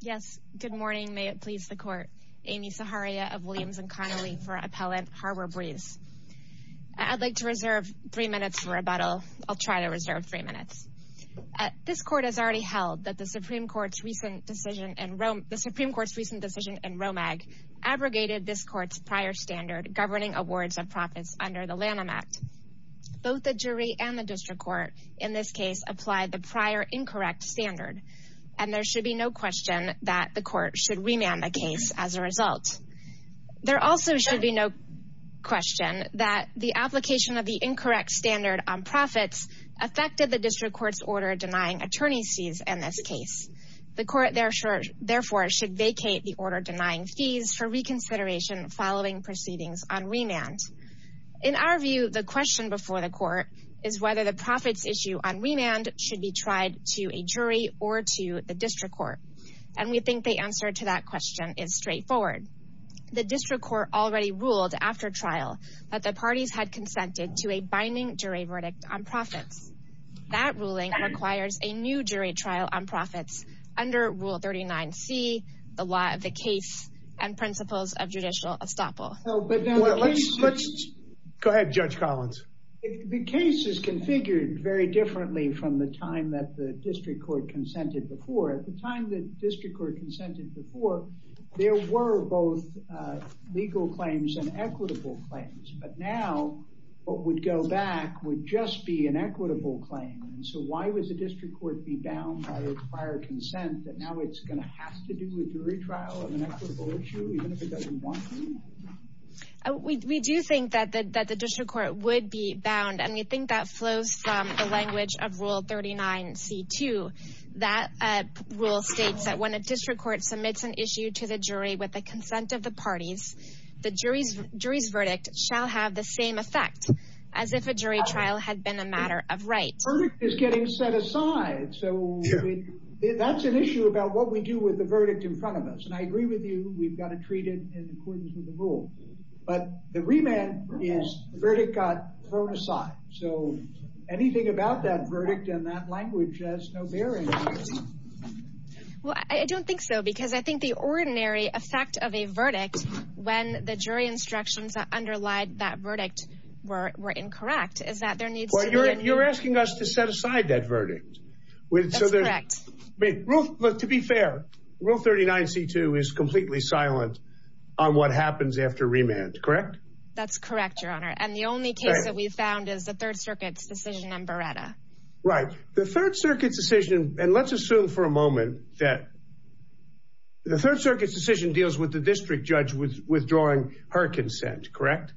Yes, good morning. May it please the court. Amy Saharia of Williams and Connolly for Appellant Harbor Breeze. I'd like to reserve three minutes for rebuttal. I'll try to reserve three minutes. This court has already held that the Supreme Court's recent decision in Romag abrogated this court's prior standard governing awards of profits under the Lanham Act. Both the jury and the district court in this case applied the prior incorrect standard, and there should be no question that the court should remand the case as a result. There also should be no question that the application of the incorrect standard on profits affected the district court's order denying attorney's fees in this case. The court, therefore, should vacate the order denying fees for reconsideration following proceedings on remand. In our view, the question before the court is whether the profits issue on remand should be tried to a jury or to the district court. And we think the answer to that question is straightforward. The district court already ruled after trial that the parties had consented to a binding jury verdict on profits. That ruling requires a new jury trial on profits under Rule 39C, the law of the case, and principles of judicial estoppel. Go ahead, Judge Collins. The case is configured very differently from the time that the district court consented before. At the time the district court consented before, there were both legal claims and equitable claims. But now, what would go back would just be an equitable claim. So why would the district court be bound by a prior consent that now it's going to have to do with jury trial of an equitable issue, even if it doesn't want to? We do think that the district court would be bound, and we think that flows from the language of Rule 39C-2. That rule states that when a district court submits an issue to the jury with the consent of the parties, the jury's verdict shall have the same effect as if a jury trial had been a matter of right. The verdict is getting set aside. So that's an issue about what we do with the verdict in front of us. And I agree with you. We've got to treat it in accordance with the rule. But the remand is the verdict got thrown aside. So anything about that verdict and that language has no bearing. Well, I don't think so, because I think the ordinary effect of a verdict, when the jury instructions that underlie that verdict were incorrect, is that there needs to be— You're asking us to set aside that verdict. That's correct. To be fair, Rule 39C-2 is completely silent on what happens after remand, correct? That's correct, Your Honor. And the only case that we've found is the Third Circuit's decision on Beretta. Right. The Third Circuit's decision—and let's assume for a moment that the Third Circuit's decision deals with the district judge withdrawing her consent, correct?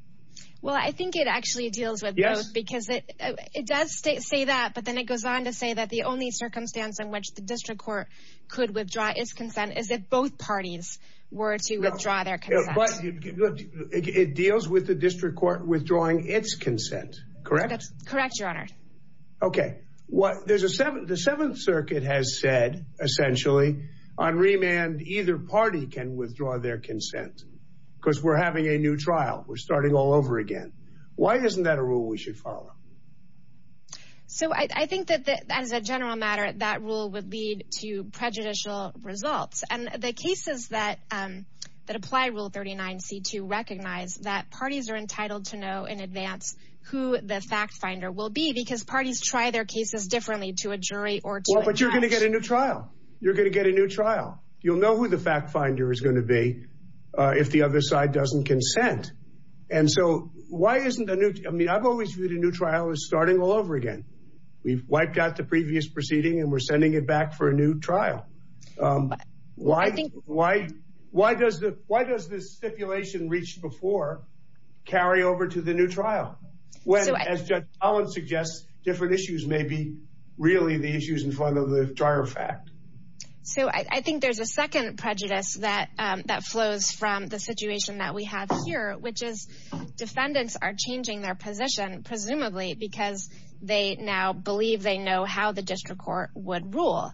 Well, I think it actually deals with both, because it does say that, but then it goes on to say that the only circumstance in which the district court could withdraw its consent is if both parties were to withdraw their consent. But it deals with the district court withdrawing its consent, correct? That's correct, Your Honor. Okay. The Seventh Circuit has said, essentially, on remand, either party can withdraw their consent, because we're having a new trial. We're starting all over again. Why isn't that a rule we should follow? So I think that, as a general matter, that rule would lead to prejudicial results. And the cases that apply Rule 39C-2 recognize that parties are entitled to know in advance who the fact finder will be, because parties try their cases differently to a jury or to a judge. Well, but you're going to get a new trial. You're going to get a new trial. You'll know who the fact finder is going to be if the other side doesn't consent. And so why isn't a new – I mean, I've always viewed a new trial as starting all over again. We've wiped out the previous proceeding, and we're sending it back for a new trial. Why does the stipulation reached before carry over to the new trial, when, as Judge Collins suggests, different issues may be really the issues in front of the prior fact? So I think there's a second prejudice that flows from the situation that we have here, which is defendants are changing their position, presumably, because they now believe they know how the district court would rule.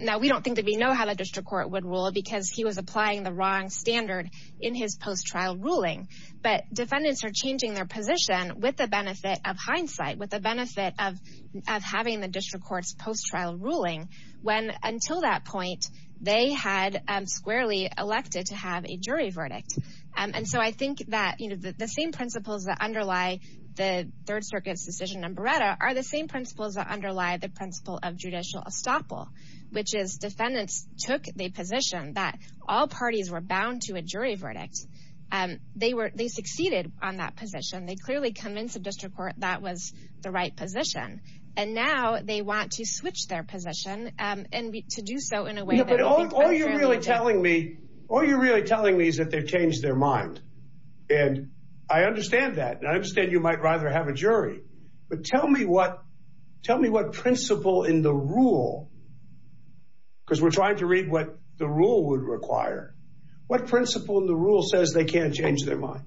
Now, we don't think that we know how the district court would rule because he was applying the wrong standard in his post-trial ruling. But defendants are changing their position with the benefit of hindsight, with the benefit of having the district court's post-trial ruling when, until that point, they had squarely elected to have a jury verdict. And so I think that the same principles that underlie the Third Circuit's decision on Beretta are the same principles that underlie the principle of judicial estoppel, which is defendants took the position that all parties were bound to a jury verdict. They succeeded on that position. They clearly convinced the district court that was the right position. And now they want to switch their position and to do so in a way that they think unfairly. But all you're really telling me is that they've changed their mind. And I understand that, and I understand you might rather have a jury. But tell me what principle in the rule, because we're trying to read what the rule would require, what principle in the rule says they can't change their mind?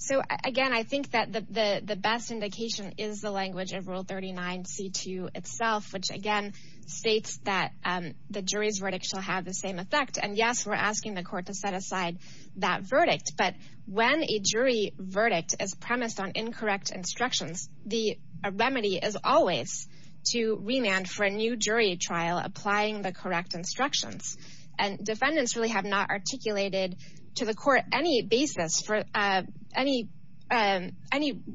So, again, I think that the best indication is the language of Rule 39C2 itself, which, again, states that the jury's verdict shall have the same effect. And, yes, we're asking the court to set aside that verdict. But when a jury verdict is premised on incorrect instructions, the remedy is always to remand for a new jury trial applying the correct instructions. And defendants really have not articulated to the court any basis for any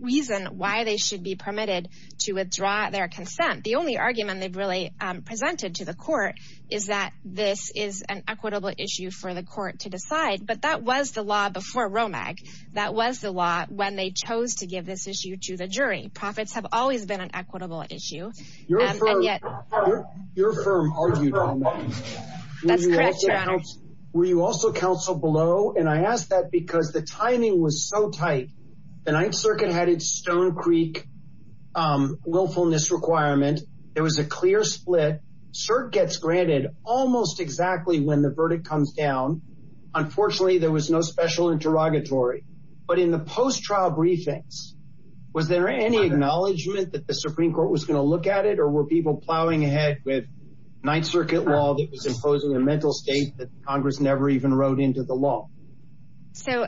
reason why they should be permitted to withdraw their consent. The only argument they've really presented to the court is that this is an equitable issue for the court to decide. But that was the law before ROMAC. That was the law when they chose to give this issue to the jury. Profits have always been an equitable issue. Your firm argued on that. That's correct, Your Honor. Were you also counseled below? And I ask that because the timing was so tight. The Ninth Circuit had its Stone Creek willfulness requirement. There was a clear split. CERT gets granted almost exactly when the verdict comes down. Unfortunately, there was no special interrogatory. But in the post-trial briefings, was there any acknowledgement that the Supreme Court was going to look at it? Or were people plowing ahead with Ninth Circuit law that was imposing a mental state that Congress never even wrote into the law? So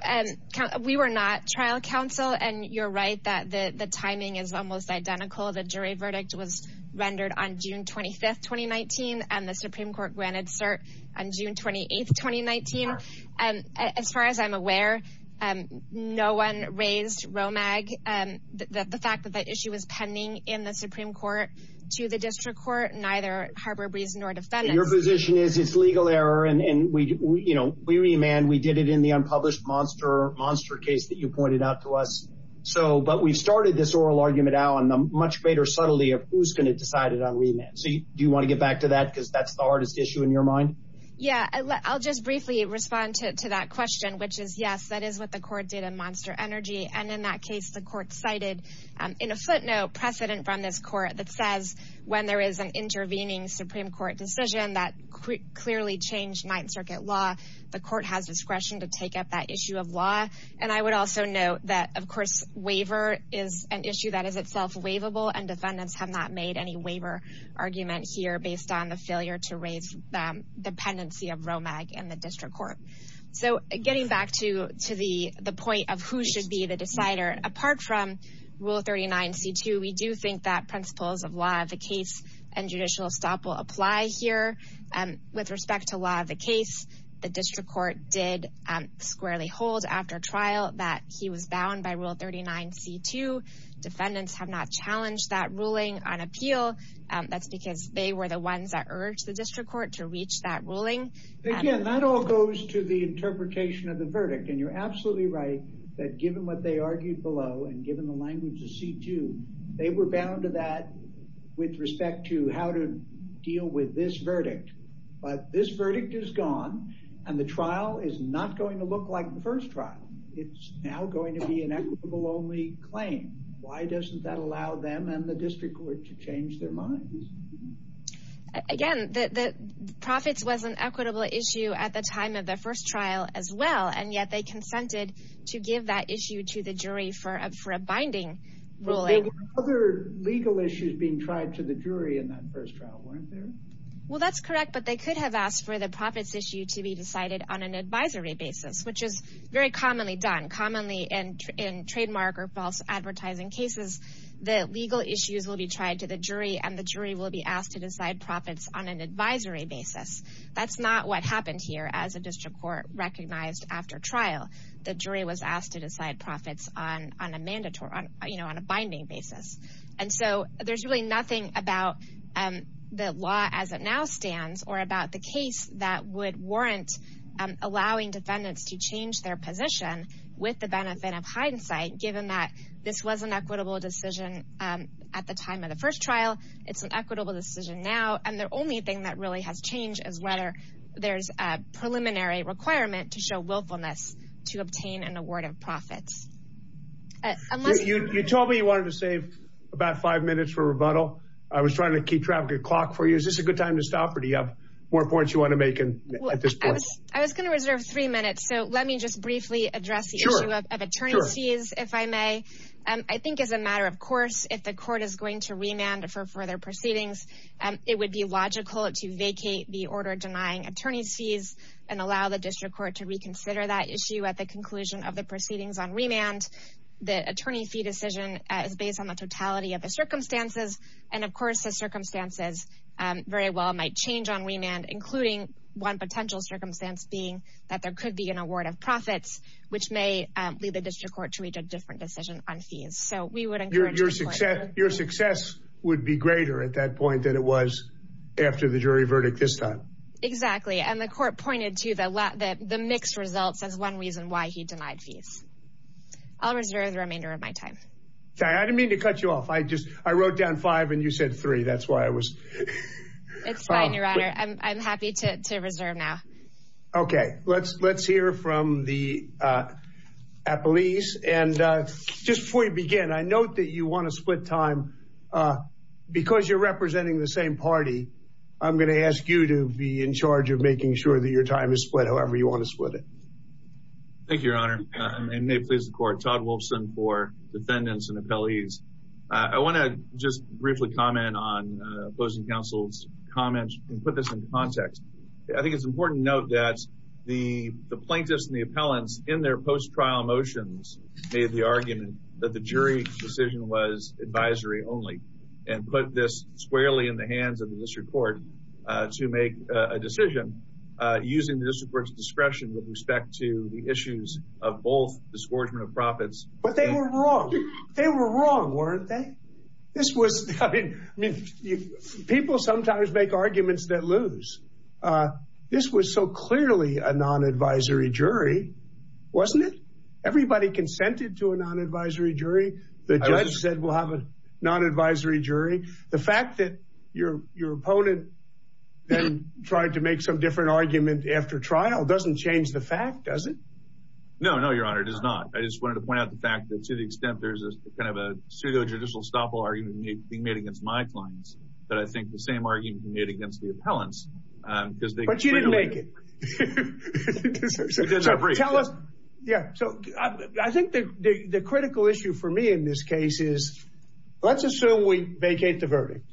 we were not trial counsel. And you're right that the timing is almost identical. The jury verdict was rendered on June 25, 2019. And the Supreme Court granted CERT on June 28, 2019. As far as I'm aware, no one raised ROMAG. The fact that the issue was pending in the Supreme Court to the district court, neither Harbor Breeze nor defendants. Your position is it's legal error. And we remand. We did it in the unpublished monster case that you pointed out to us. But we've started this oral argument now on the much greater subtlety of who's going to decide it on remand. So do you want to get back to that because that's the hardest issue in your mind? Yeah, I'll just briefly respond to that question, which is, yes, that is what the court did in Monster Energy. And in that case, the court cited in a footnote precedent from this court that says when there is an intervening Supreme Court decision that clearly changed Ninth Circuit law. The court has discretion to take up that issue of law. And I would also note that, of course, waiver is an issue that is itself waivable. And defendants have not made any waiver argument here based on the failure to raise the pendency of ROMAG in the district court. So getting back to to the the point of who should be the decider. Apart from Rule 39 C2, we do think that principles of law of the case and judicial stop will apply here. With respect to law of the case, the district court did squarely hold after trial that he was bound by Rule 39 C2. Defendants have not challenged that ruling on appeal. That's because they were the ones that urged the district court to reach that ruling. Again, that all goes to the interpretation of the verdict. And you're absolutely right that given what they argued below and given the language of C2, they were bound to that with respect to how to deal with this verdict. But this verdict is gone and the trial is not going to look like the first trial. It's now going to be an equitable only claim. Why doesn't that allow them and the district court to change their minds? Again, the profits was an equitable issue at the time of the first trial as well. And yet they consented to give that issue to the jury for a binding ruling. There were other legal issues being tried to the jury in that first trial, weren't there? Well, that's correct. But they could have asked for the profits issue to be decided on an advisory basis, which is very commonly done. Commonly in trademark or false advertising cases, the legal issues will be tried to the jury and the jury will be asked to decide profits on an advisory basis. That's not what happened here as a district court recognized after trial. The jury was asked to decide profits on a binding basis. And so there's really nothing about the law as it now stands or about the case that would warrant allowing defendants to change their position with the benefit of hindsight. Given that this was an equitable decision at the time of the first trial, it's an equitable decision now. And the only thing that really has changed is whether there's a preliminary requirement to show willfulness to obtain an award of profits. You told me you wanted to save about five minutes for rebuttal. I was trying to keep track of the clock for you. Is this a good time to stop or do you have more points you want to make at this point? I was going to reserve three minutes. So let me just briefly address the issue of attorneys fees, if I may. I think as a matter of course, if the court is going to remand for further proceedings, it would be logical to vacate the order denying attorneys fees and allow the district court to reconsider that issue at the conclusion of the proceedings on remand. The attorney fee decision is based on the totality of the circumstances. And of course, the circumstances very well might change on remand, including one potential circumstance being that there could be an award of profits, which may lead the district court to reach a different decision on fees. So we would encourage your success. Your success would be greater at that point than it was after the jury verdict this time. Exactly. And the court pointed to the mix results as one reason why he denied fees. I'll reserve the remainder of my time. I didn't mean to cut you off. I just I wrote down five and you said three. That's why I was. It's fine, Your Honor. I'm happy to reserve now. OK, let's let's hear from the appellees. And just before you begin, I note that you want to split time because you're representing the same party. I'm going to ask you to be in charge of making sure that your time is split, however you want to split it. Thank you, Your Honor. And may it please the court, Todd Wolfson for defendants and appellees. I want to just briefly comment on opposing counsel's comments and put this in context. I think it's important to note that the plaintiffs and the appellants in their post-trial motions made the argument that the jury decision was advisory only. And put this squarely in the hands of the district court to make a decision using the district court's discretion with respect to the issues of both discouragement of profits. But they were wrong. They were wrong, weren't they? This was I mean, people sometimes make arguments that lose. This was so clearly a non-advisory jury, wasn't it? Everybody consented to a non-advisory jury. The judge said we'll have a non-advisory jury. The fact that your your opponent then tried to make some different argument after trial doesn't change the fact, does it? No, no, Your Honor, it does not. I just wanted to point out the fact that to the extent there's a kind of a pseudo-judicial stoppable argument being made against my clients. But I think the same argument can be made against the appellants. But you didn't make it. Tell us. Yeah. So I think the critical issue for me in this case is let's assume we vacate the verdict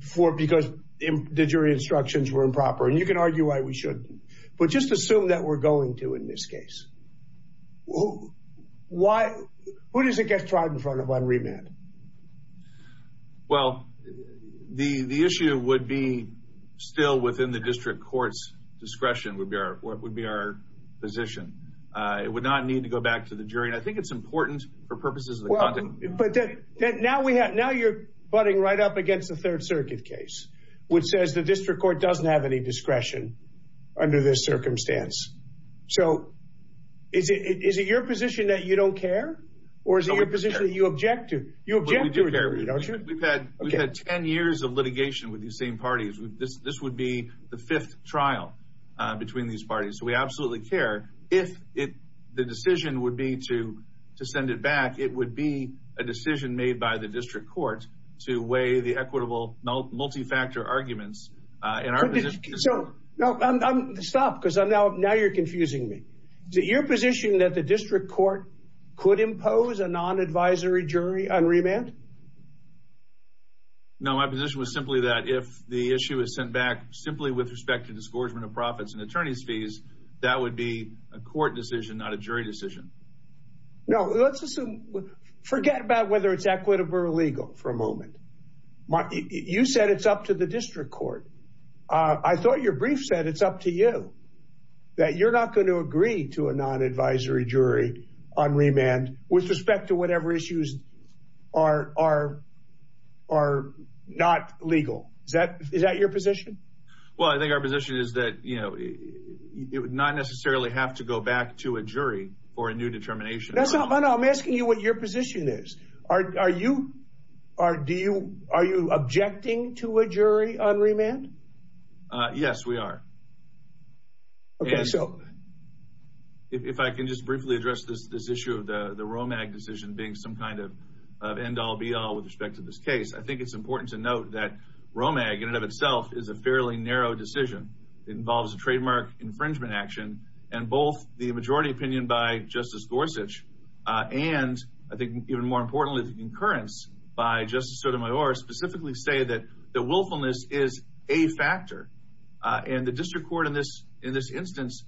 for because the jury instructions were improper. And you can argue why we should. But just assume that we're going to in this case. Well, why? What does it get tried in front of on remand? Well, the the issue would be still within the district court's discretion would be our what would be our position. It would not need to go back to the jury. I think it's important for purposes. But now we have now you're butting right up against the Third Circuit case, which says the district court doesn't have any discretion under this circumstance. So is it is it your position that you don't care or is it your position that you object to? You object to it, don't you? We've had 10 years of litigation with these same parties. This would be the fifth trial between these parties. So we absolutely care if it the decision would be to to send it back. It would be a decision made by the district court to weigh the equitable multi-factor arguments. So stop because I'm now now you're confusing me. Is it your position that the district court could impose a non-advisory jury on remand? No, my position was simply that if the issue is sent back simply with respect to disgorgement of profits and attorney's fees, that would be a court decision, not a jury decision. No, let's assume forget about whether it's equitable or illegal for a moment. You said it's up to the district court. I thought your brief said it's up to you that you're not going to agree to a non-advisory jury on remand with respect to whatever issues are are are not legal. Is that is that your position? Well, I think our position is that, you know, it would not necessarily have to go back to a jury for a new determination. That's not what I'm asking you. What your position is. Are you are do you are you objecting to a jury on remand? Yes, we are. So if I can just briefly address this, this issue of the Romag decision being some kind of end all be all with respect to this case. I think it's important to note that Romag in and of itself is a fairly narrow decision. It involves a trademark infringement action and both the majority opinion by Justice Gorsuch and I think even more importantly, the concurrence by Justice Sotomayor specifically say that the willfulness is a factor. And the district court in this in this instance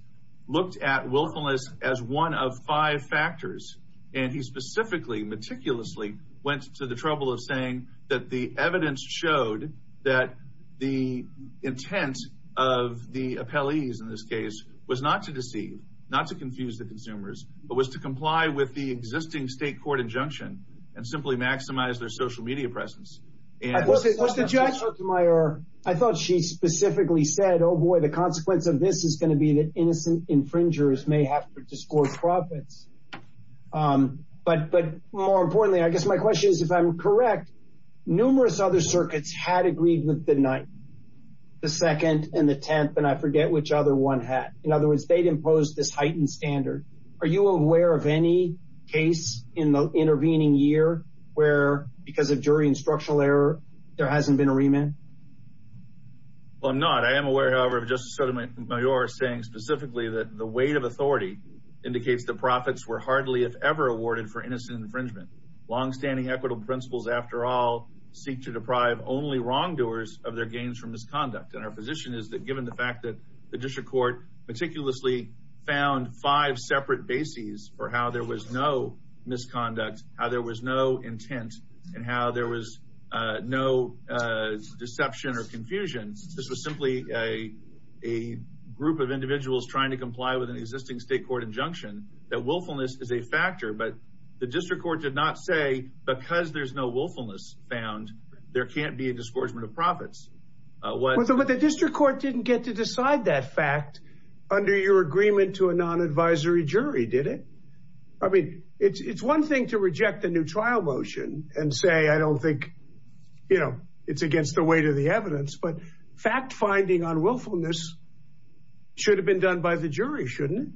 looked at willfulness as one of five factors. And he specifically meticulously went to the trouble of saying that the evidence showed that the intent of the appellees in this case was not to deceive, not to confuse the consumers, but was to comply with the existing state court injunction and simply maximize their social media presence. Justice Sotomayor, I thought she specifically said, oh, boy, the consequence of this is going to be that innocent infringers may have to disclose profits. But but more importantly, I guess my question is, if I'm correct, numerous other circuits had agreed with the ninth, the second and the tenth. And I forget which other one had. In other words, they'd imposed this heightened standard. Are you aware of any case in the intervening year where because of jury and structural error, there hasn't been a remand? Well, I'm not. I am aware, however, of Justice Sotomayor saying specifically that the weight of authority indicates the profits were hardly, if ever, awarded for innocent infringement. Longstanding equitable principles, after all, seek to deprive only wrongdoers of their gains from misconduct. And our position is that given the fact that the district court meticulously found five separate bases for how there was no misconduct, how there was no intent and how there was no deception or confusion. This was simply a a group of individuals trying to comply with an existing state court injunction. That willfulness is a factor. But the district court did not say because there's no willfulness found, there can't be a disgorgement of profits. What the district court didn't get to decide that fact under your agreement to a non advisory jury, did it? I mean, it's one thing to reject the new trial motion and say, I don't think, you know, it's against the weight of the evidence. But fact finding on willfulness should have been done by the jury, shouldn't it?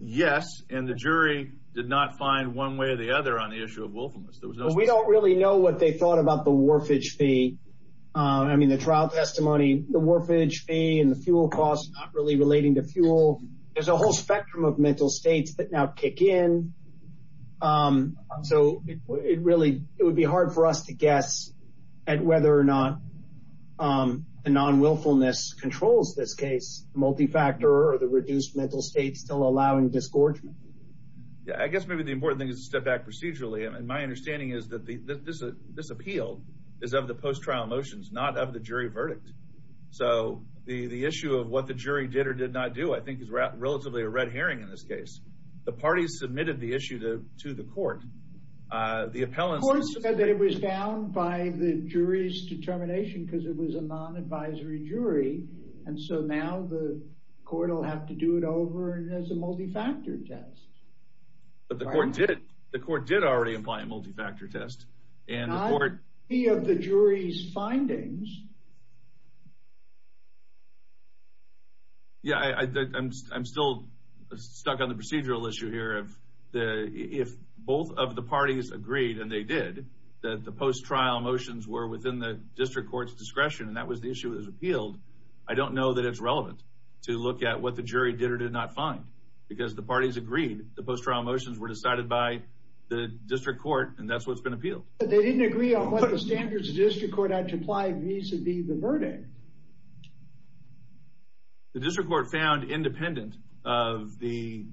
Yes. And the jury did not find one way or the other on the issue of willfulness. We don't really know what they thought about the warfage fee. I mean, the trial testimony, the warfage fee and the fuel costs really relating to fuel. There's a whole spectrum of mental states that now kick in. So it really it would be hard for us to guess at whether or not the non willfulness controls this case. Multi factor or the reduced mental state still allowing disgorgement. I guess maybe the important thing is to step back procedurally. And my understanding is that this appeal is of the post trial motions, not of the jury verdict. So the issue of what the jury did or did not do, I think, is relatively a red herring in this case. The parties submitted the issue to the court. The appellants said that it was down by the jury's determination because it was a non advisory jury. And so now the court will have to do it over as a multifactor test. But the court did. The court did already imply a multifactor test and the jury's findings. Yeah, I'm still stuck on the procedural issue here of the if both of the parties agreed and they did that, the post trial motions were within the district court's discretion and that was the issue that was appealed. I don't know that it's relevant to look at what the jury did or did not find because the parties agreed. The post trial motions were decided by the district court and that's what's been appealed. They didn't agree on what the standards of district court had to apply vis a vis the verdict. The district court found independent of the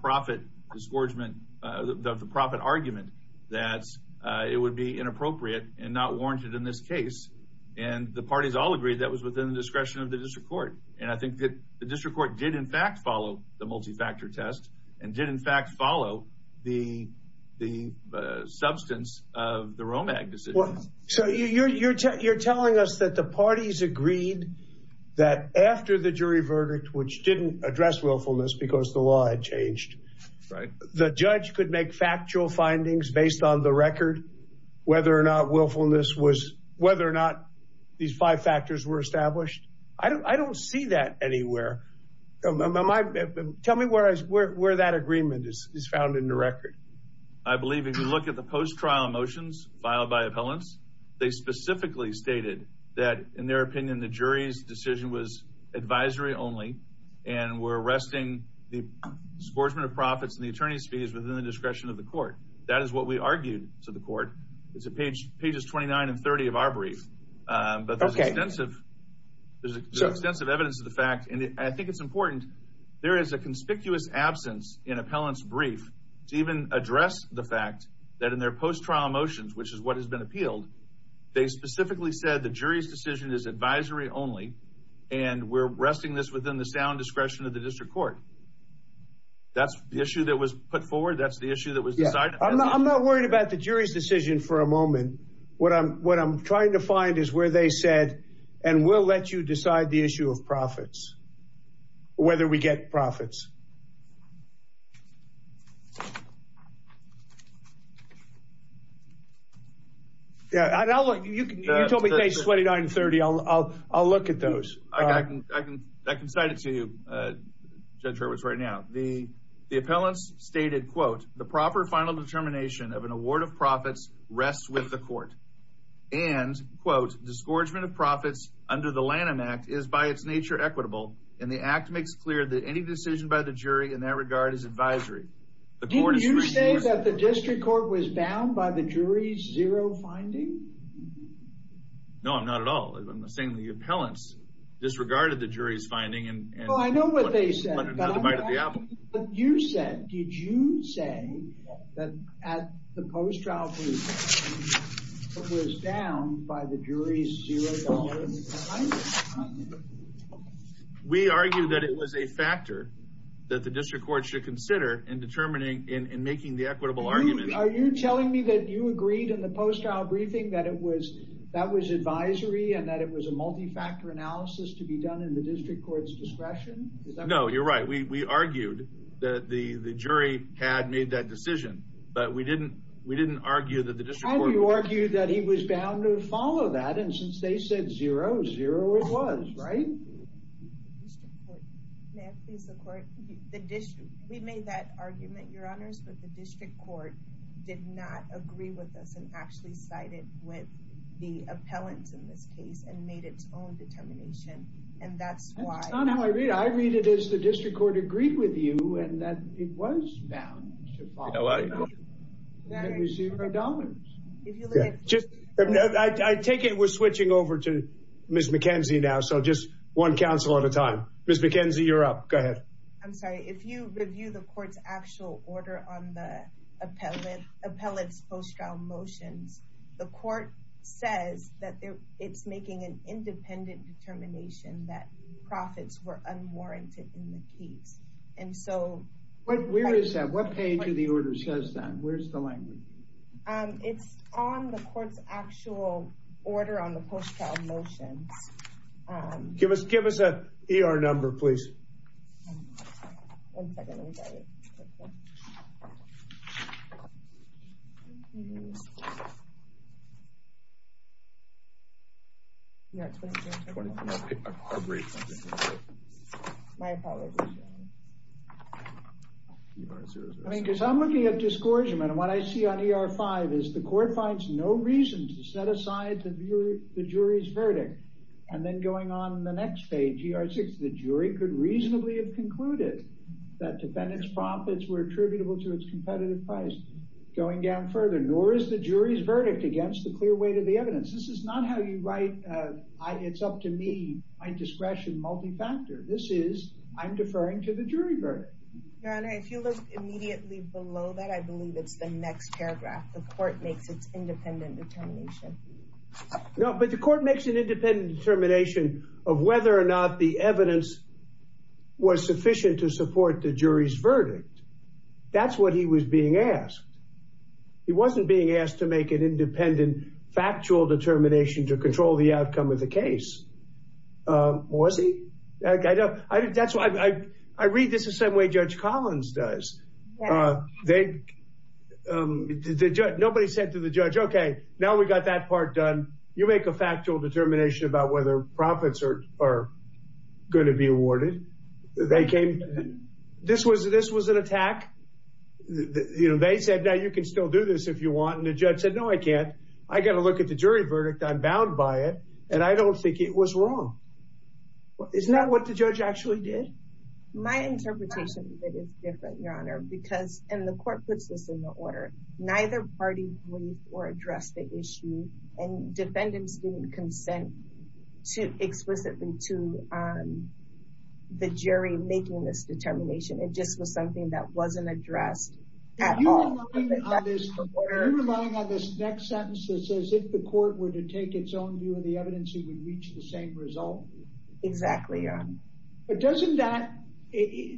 profit argument that it would be inappropriate and not warranted in this case. And the parties all agreed that was within the discretion of the district court. And I think that the district court did in fact follow the multifactor test and did in fact follow the substance of the Romag decision. So you're telling us that the parties agreed that after the jury verdict, which didn't address willfulness because the law had changed, the judge could make factual findings based on the record whether or not willfulness was whether or not these five factors were established. I don't see that anywhere. Tell me where that agreement is found in the record. I believe if you look at the post trial motions filed by appellants, they specifically stated that in their opinion, the jury's decision was advisory only and we're arresting the sportsman of profits and the attorney's fees within the discretion of the court. That is what we argued to the court. It's a page pages 29 and 30 of our brief. But there's extensive there's extensive evidence of the fact and I think it's important. There is a conspicuous absence in appellants brief to even address the fact that in their post trial motions, which is what has been appealed. They specifically said the jury's decision is advisory only. And we're arresting this within the sound discretion of the district court. That's the issue that was put forward. That's the issue that was decided. I'm not worried about the jury's decision for a moment. What I'm what I'm trying to find is where they said and we'll let you decide the issue of profits. Whether we get profits. Yeah. You told me page 29 and 30. I'll I'll I'll look at those. I can I can I can cite it to you, Judge Roberts, right now. The the appellants stated, quote, the proper final determination of an award of profits rests with the court. And, quote, disgorgement of profits under the Lanham Act is by its nature equitable. And the act makes clear that any decision by the jury in that regard is advisory. Did you say that the district court was bound by the jury's zero finding? No, I'm not at all. I'm not saying the appellants disregarded the jury's finding. And I know what they said. But you said. Did you say that at the post trial was down by the jury's zero? We argue that it was a factor that the district court should consider in determining in making the equitable argument. Are you telling me that you agreed in the post trial briefing that it was that was advisory and that it was a multifactor analysis to be done in the district court's discretion? No, you're right. We argued that the jury had made that decision. But we didn't we didn't argue that the district court argued that he was bound to follow that. And since they said zero, zero, it was right. May I please the court? We made that argument, your honors, but the district court did not agree with us and actually sided with the appellants in this case and made its own determination. And that's why I read it as the district court agreed with you and that it was bound to follow. Let me see my dollars. If you just take it, we're switching over to Miss McKenzie now. So just one council at a time. Miss McKenzie, you're up. Go ahead. I'm sorry. If you review the court's actual order on the appellate appellate's post trial motions, the court says that it's making an independent determination that profits were unwarranted in the case. And so where is that? What page of the order says that? Where's the language? It's on the court's actual order on the motion. Give us give us a E.R. number, please. One second. I mean, because I'm looking at discouragement. And what I see on E.R. five is the court finds no reason to set aside the jury's verdict. And then going on the next page, the jury could reasonably have concluded that defendants profits were attributable to its competitive price. Going down further, nor is the jury's verdict against the clear weight of the evidence. This is not how you write. It's up to me. I discretion multifactor. This is I'm deferring to the jury verdict. Your Honor, if you look immediately below that, I believe it's the next paragraph. The court makes its independent determination. No, but the court makes an independent determination of whether or not the evidence was sufficient to support the jury's verdict. That's what he was being asked. He wasn't being asked to make an independent factual determination to control the outcome of the case. Was he? That's why I read this the same way Judge Collins does. Nobody said to the judge, OK, now we've got that part done. You make a factual determination about whether profits are going to be awarded. They came. This was this was an attack. You know, they said, now you can still do this if you want. And the judge said, no, I can't. I got to look at the jury verdict. I'm bound by it. And I don't think it was wrong. It's not what the judge actually did. My interpretation is different, Your Honor, because the court puts this in the order. Neither party or address the issue. And defendants didn't consent to explicitly to the jury making this determination. It just was something that wasn't addressed at all. Are you relying on this next sentence that says if the court were to take its own view of the evidence, it would reach the same result? Exactly, Your Honor. But doesn't that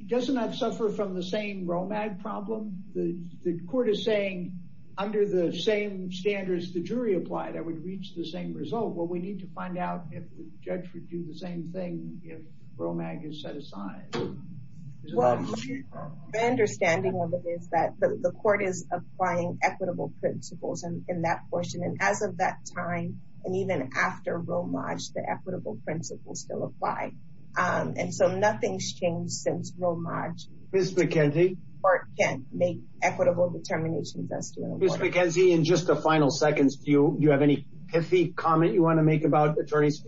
doesn't that suffer from the same Romag problem? The court is saying under the same standards, the jury applied, I would reach the same result. Well, we need to find out if the judge would do the same thing if Romag is set aside. My understanding of it is that the court is applying equitable principles in that portion. And as of that time, and even after Romag, the equitable principles still apply. And so nothing's changed since Romag. Ms. McKenzie? The court can't make equitable determinations as to Romag. Ms. McKenzie, in just a final second, do you have any pithy comment you want to make about attorneys?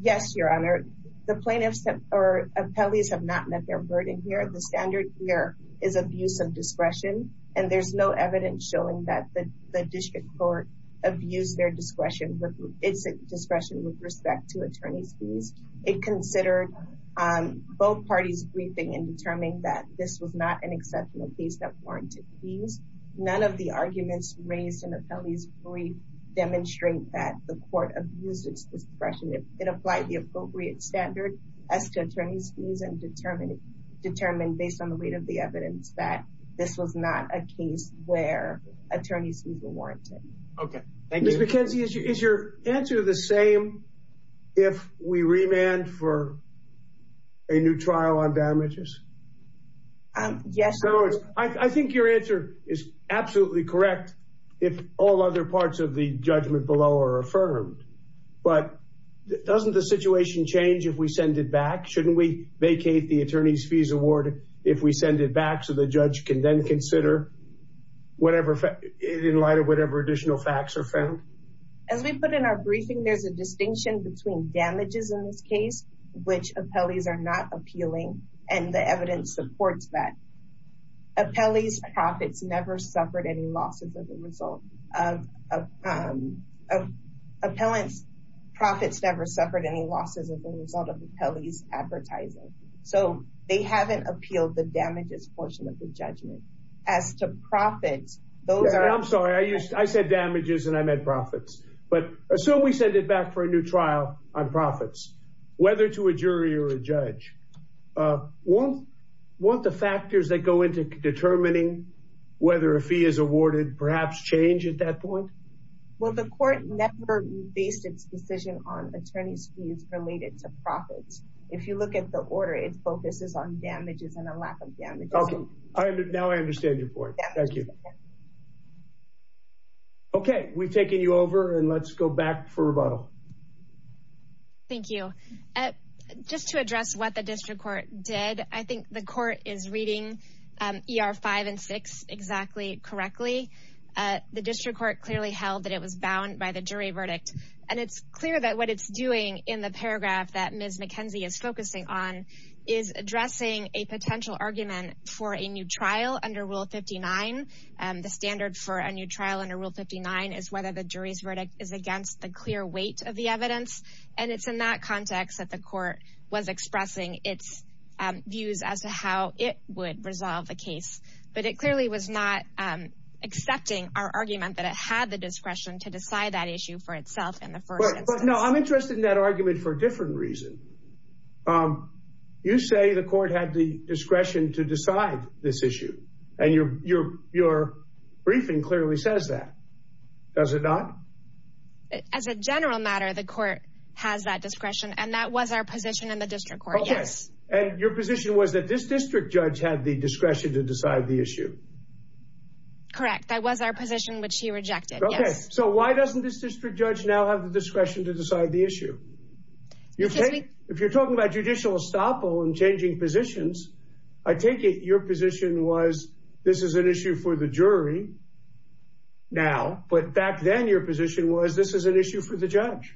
Yes, Your Honor. The plaintiffs or appellees have not met their burden here. The standard here is abuse of discretion. And there's no evidence showing that the district court abused their discretion with its discretion with respect to attorney's fees. It considered both parties briefing and determining that this was not an exceptional case that warranted fees. None of the arguments raised in the appellee's brief demonstrate that the court abused its discretion. It applied the appropriate standard as to attorney's fees and determined, based on the weight of the evidence, that this was not a case where attorney's fees were warranted. Okay. Thank you. Ms. McKenzie, is your answer the same if we remand for a new trial on damages? Yes. I think your answer is absolutely correct if all other parts of the judgment below are affirmed. But doesn't the situation change if we send it back? Shouldn't we vacate the attorney's fees award if we send it back so the judge can then consider in light of whatever additional facts are found? As we put in our briefing, there's a distinction between damages in this case, which appellees are not appealing, and the evidence supports that. Appellee's profits never suffered any losses as a result of appellee's advertising. So they haven't appealed the damages portion of the judgment. I'm sorry. I said damages, and I meant profits. So we send it back for a new trial on profits, whether to a jury or a judge. Won't the factors that go into determining whether a fee is awarded perhaps change at that point? Well, the court never based its decision on attorney's fees related to profits. If you look at the order, it focuses on damages and a lack of damages. Now I understand your point. Thank you. OK, we've taken you over and let's go back for rebuttal. Thank you. Just to address what the district court did, I think the court is reading ER five and six exactly correctly. The district court clearly held that it was bound by the jury verdict. And it's clear that what it's doing in the paragraph that Ms. McKenzie is focusing on is addressing a potential argument for a new trial under Rule 59. And the standard for a new trial under Rule 59 is whether the jury's verdict is against the clear weight of the evidence. And it's in that context that the court was expressing its views as to how it would resolve the case. But it clearly was not accepting our argument that it had the discretion to decide that issue for itself in the first place. No, I'm interested in that argument for a different reason. You say the court had the discretion to decide this issue. And your your your briefing clearly says that, does it not? As a general matter, the court has that discretion. And that was our position in the district court. Yes. And your position was that this district judge had the discretion to decide the issue. Correct. That was our position, which he rejected. So why doesn't this district judge now have the discretion to decide the issue? You think if you're talking about judicial estoppel and changing positions, I take it your position was this is an issue for the jury. Now, but back then, your position was this is an issue for the judge.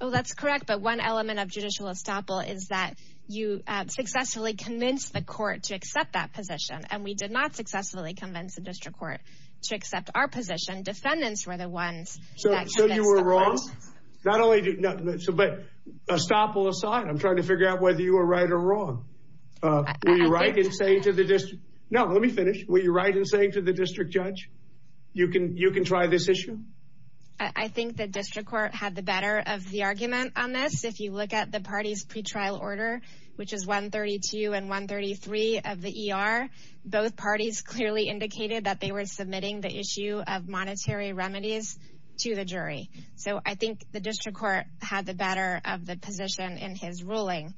Oh, that's correct. But one element of judicial estoppel is that you successfully convinced the court to accept that position. And we did not successfully convince the district court to accept our position. Defendants were the ones. So you were wrong. Not only did not submit estoppel aside, I'm trying to figure out whether you were right or wrong. Were you right in saying to the district? No, let me finish. Were you right in saying to the district judge, you can you can try this issue? I think the district court had the better of the argument on this. If you look at the party's pretrial order, which is 132 and 133 of the ER, both parties clearly indicated that they were submitting the issue of monetary remedies to the jury. So I think the district court had the better of the position in his ruling.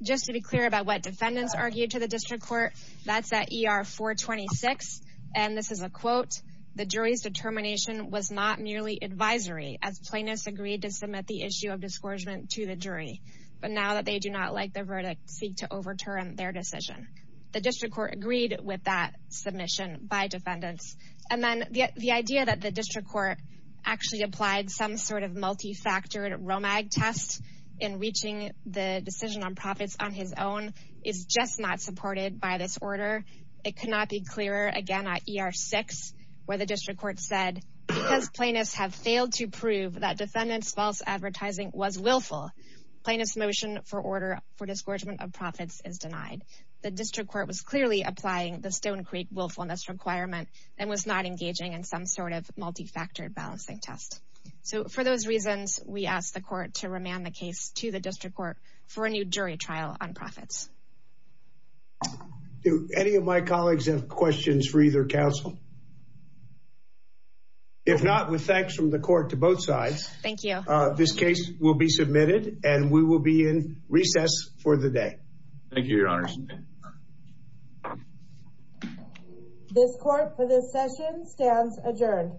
Just to be clear about what defendants argued to the district court, that's at ER 426. And this is a quote. The jury's determination was not merely advisory as plaintiffs agreed to submit the issue of discouragement to the jury. But now that they do not like the verdict, seek to overturn their decision. The district court agreed with that submission by defendants. And then the idea that the district court actually applied some sort of multifactored test in reaching the decision on profits on his own is just not supported by this order. It cannot be clearer again at ER 6 where the district court said because plaintiffs have failed to prove that defendants false advertising was willful. Plaintiffs motion for order for discouragement of profits is denied. The district court was clearly applying the Stone Creek willfulness requirement and was not engaging in some sort of multifactored balancing test. So for those reasons, we asked the court to remand the case to the district court for a new jury trial on profits. Do any of my colleagues have questions for either counsel? If not, with thanks from the court to both sides. Thank you. This case will be submitted and we will be in recess for the day. Thank you, Your Honor. This court for this session stands adjourned.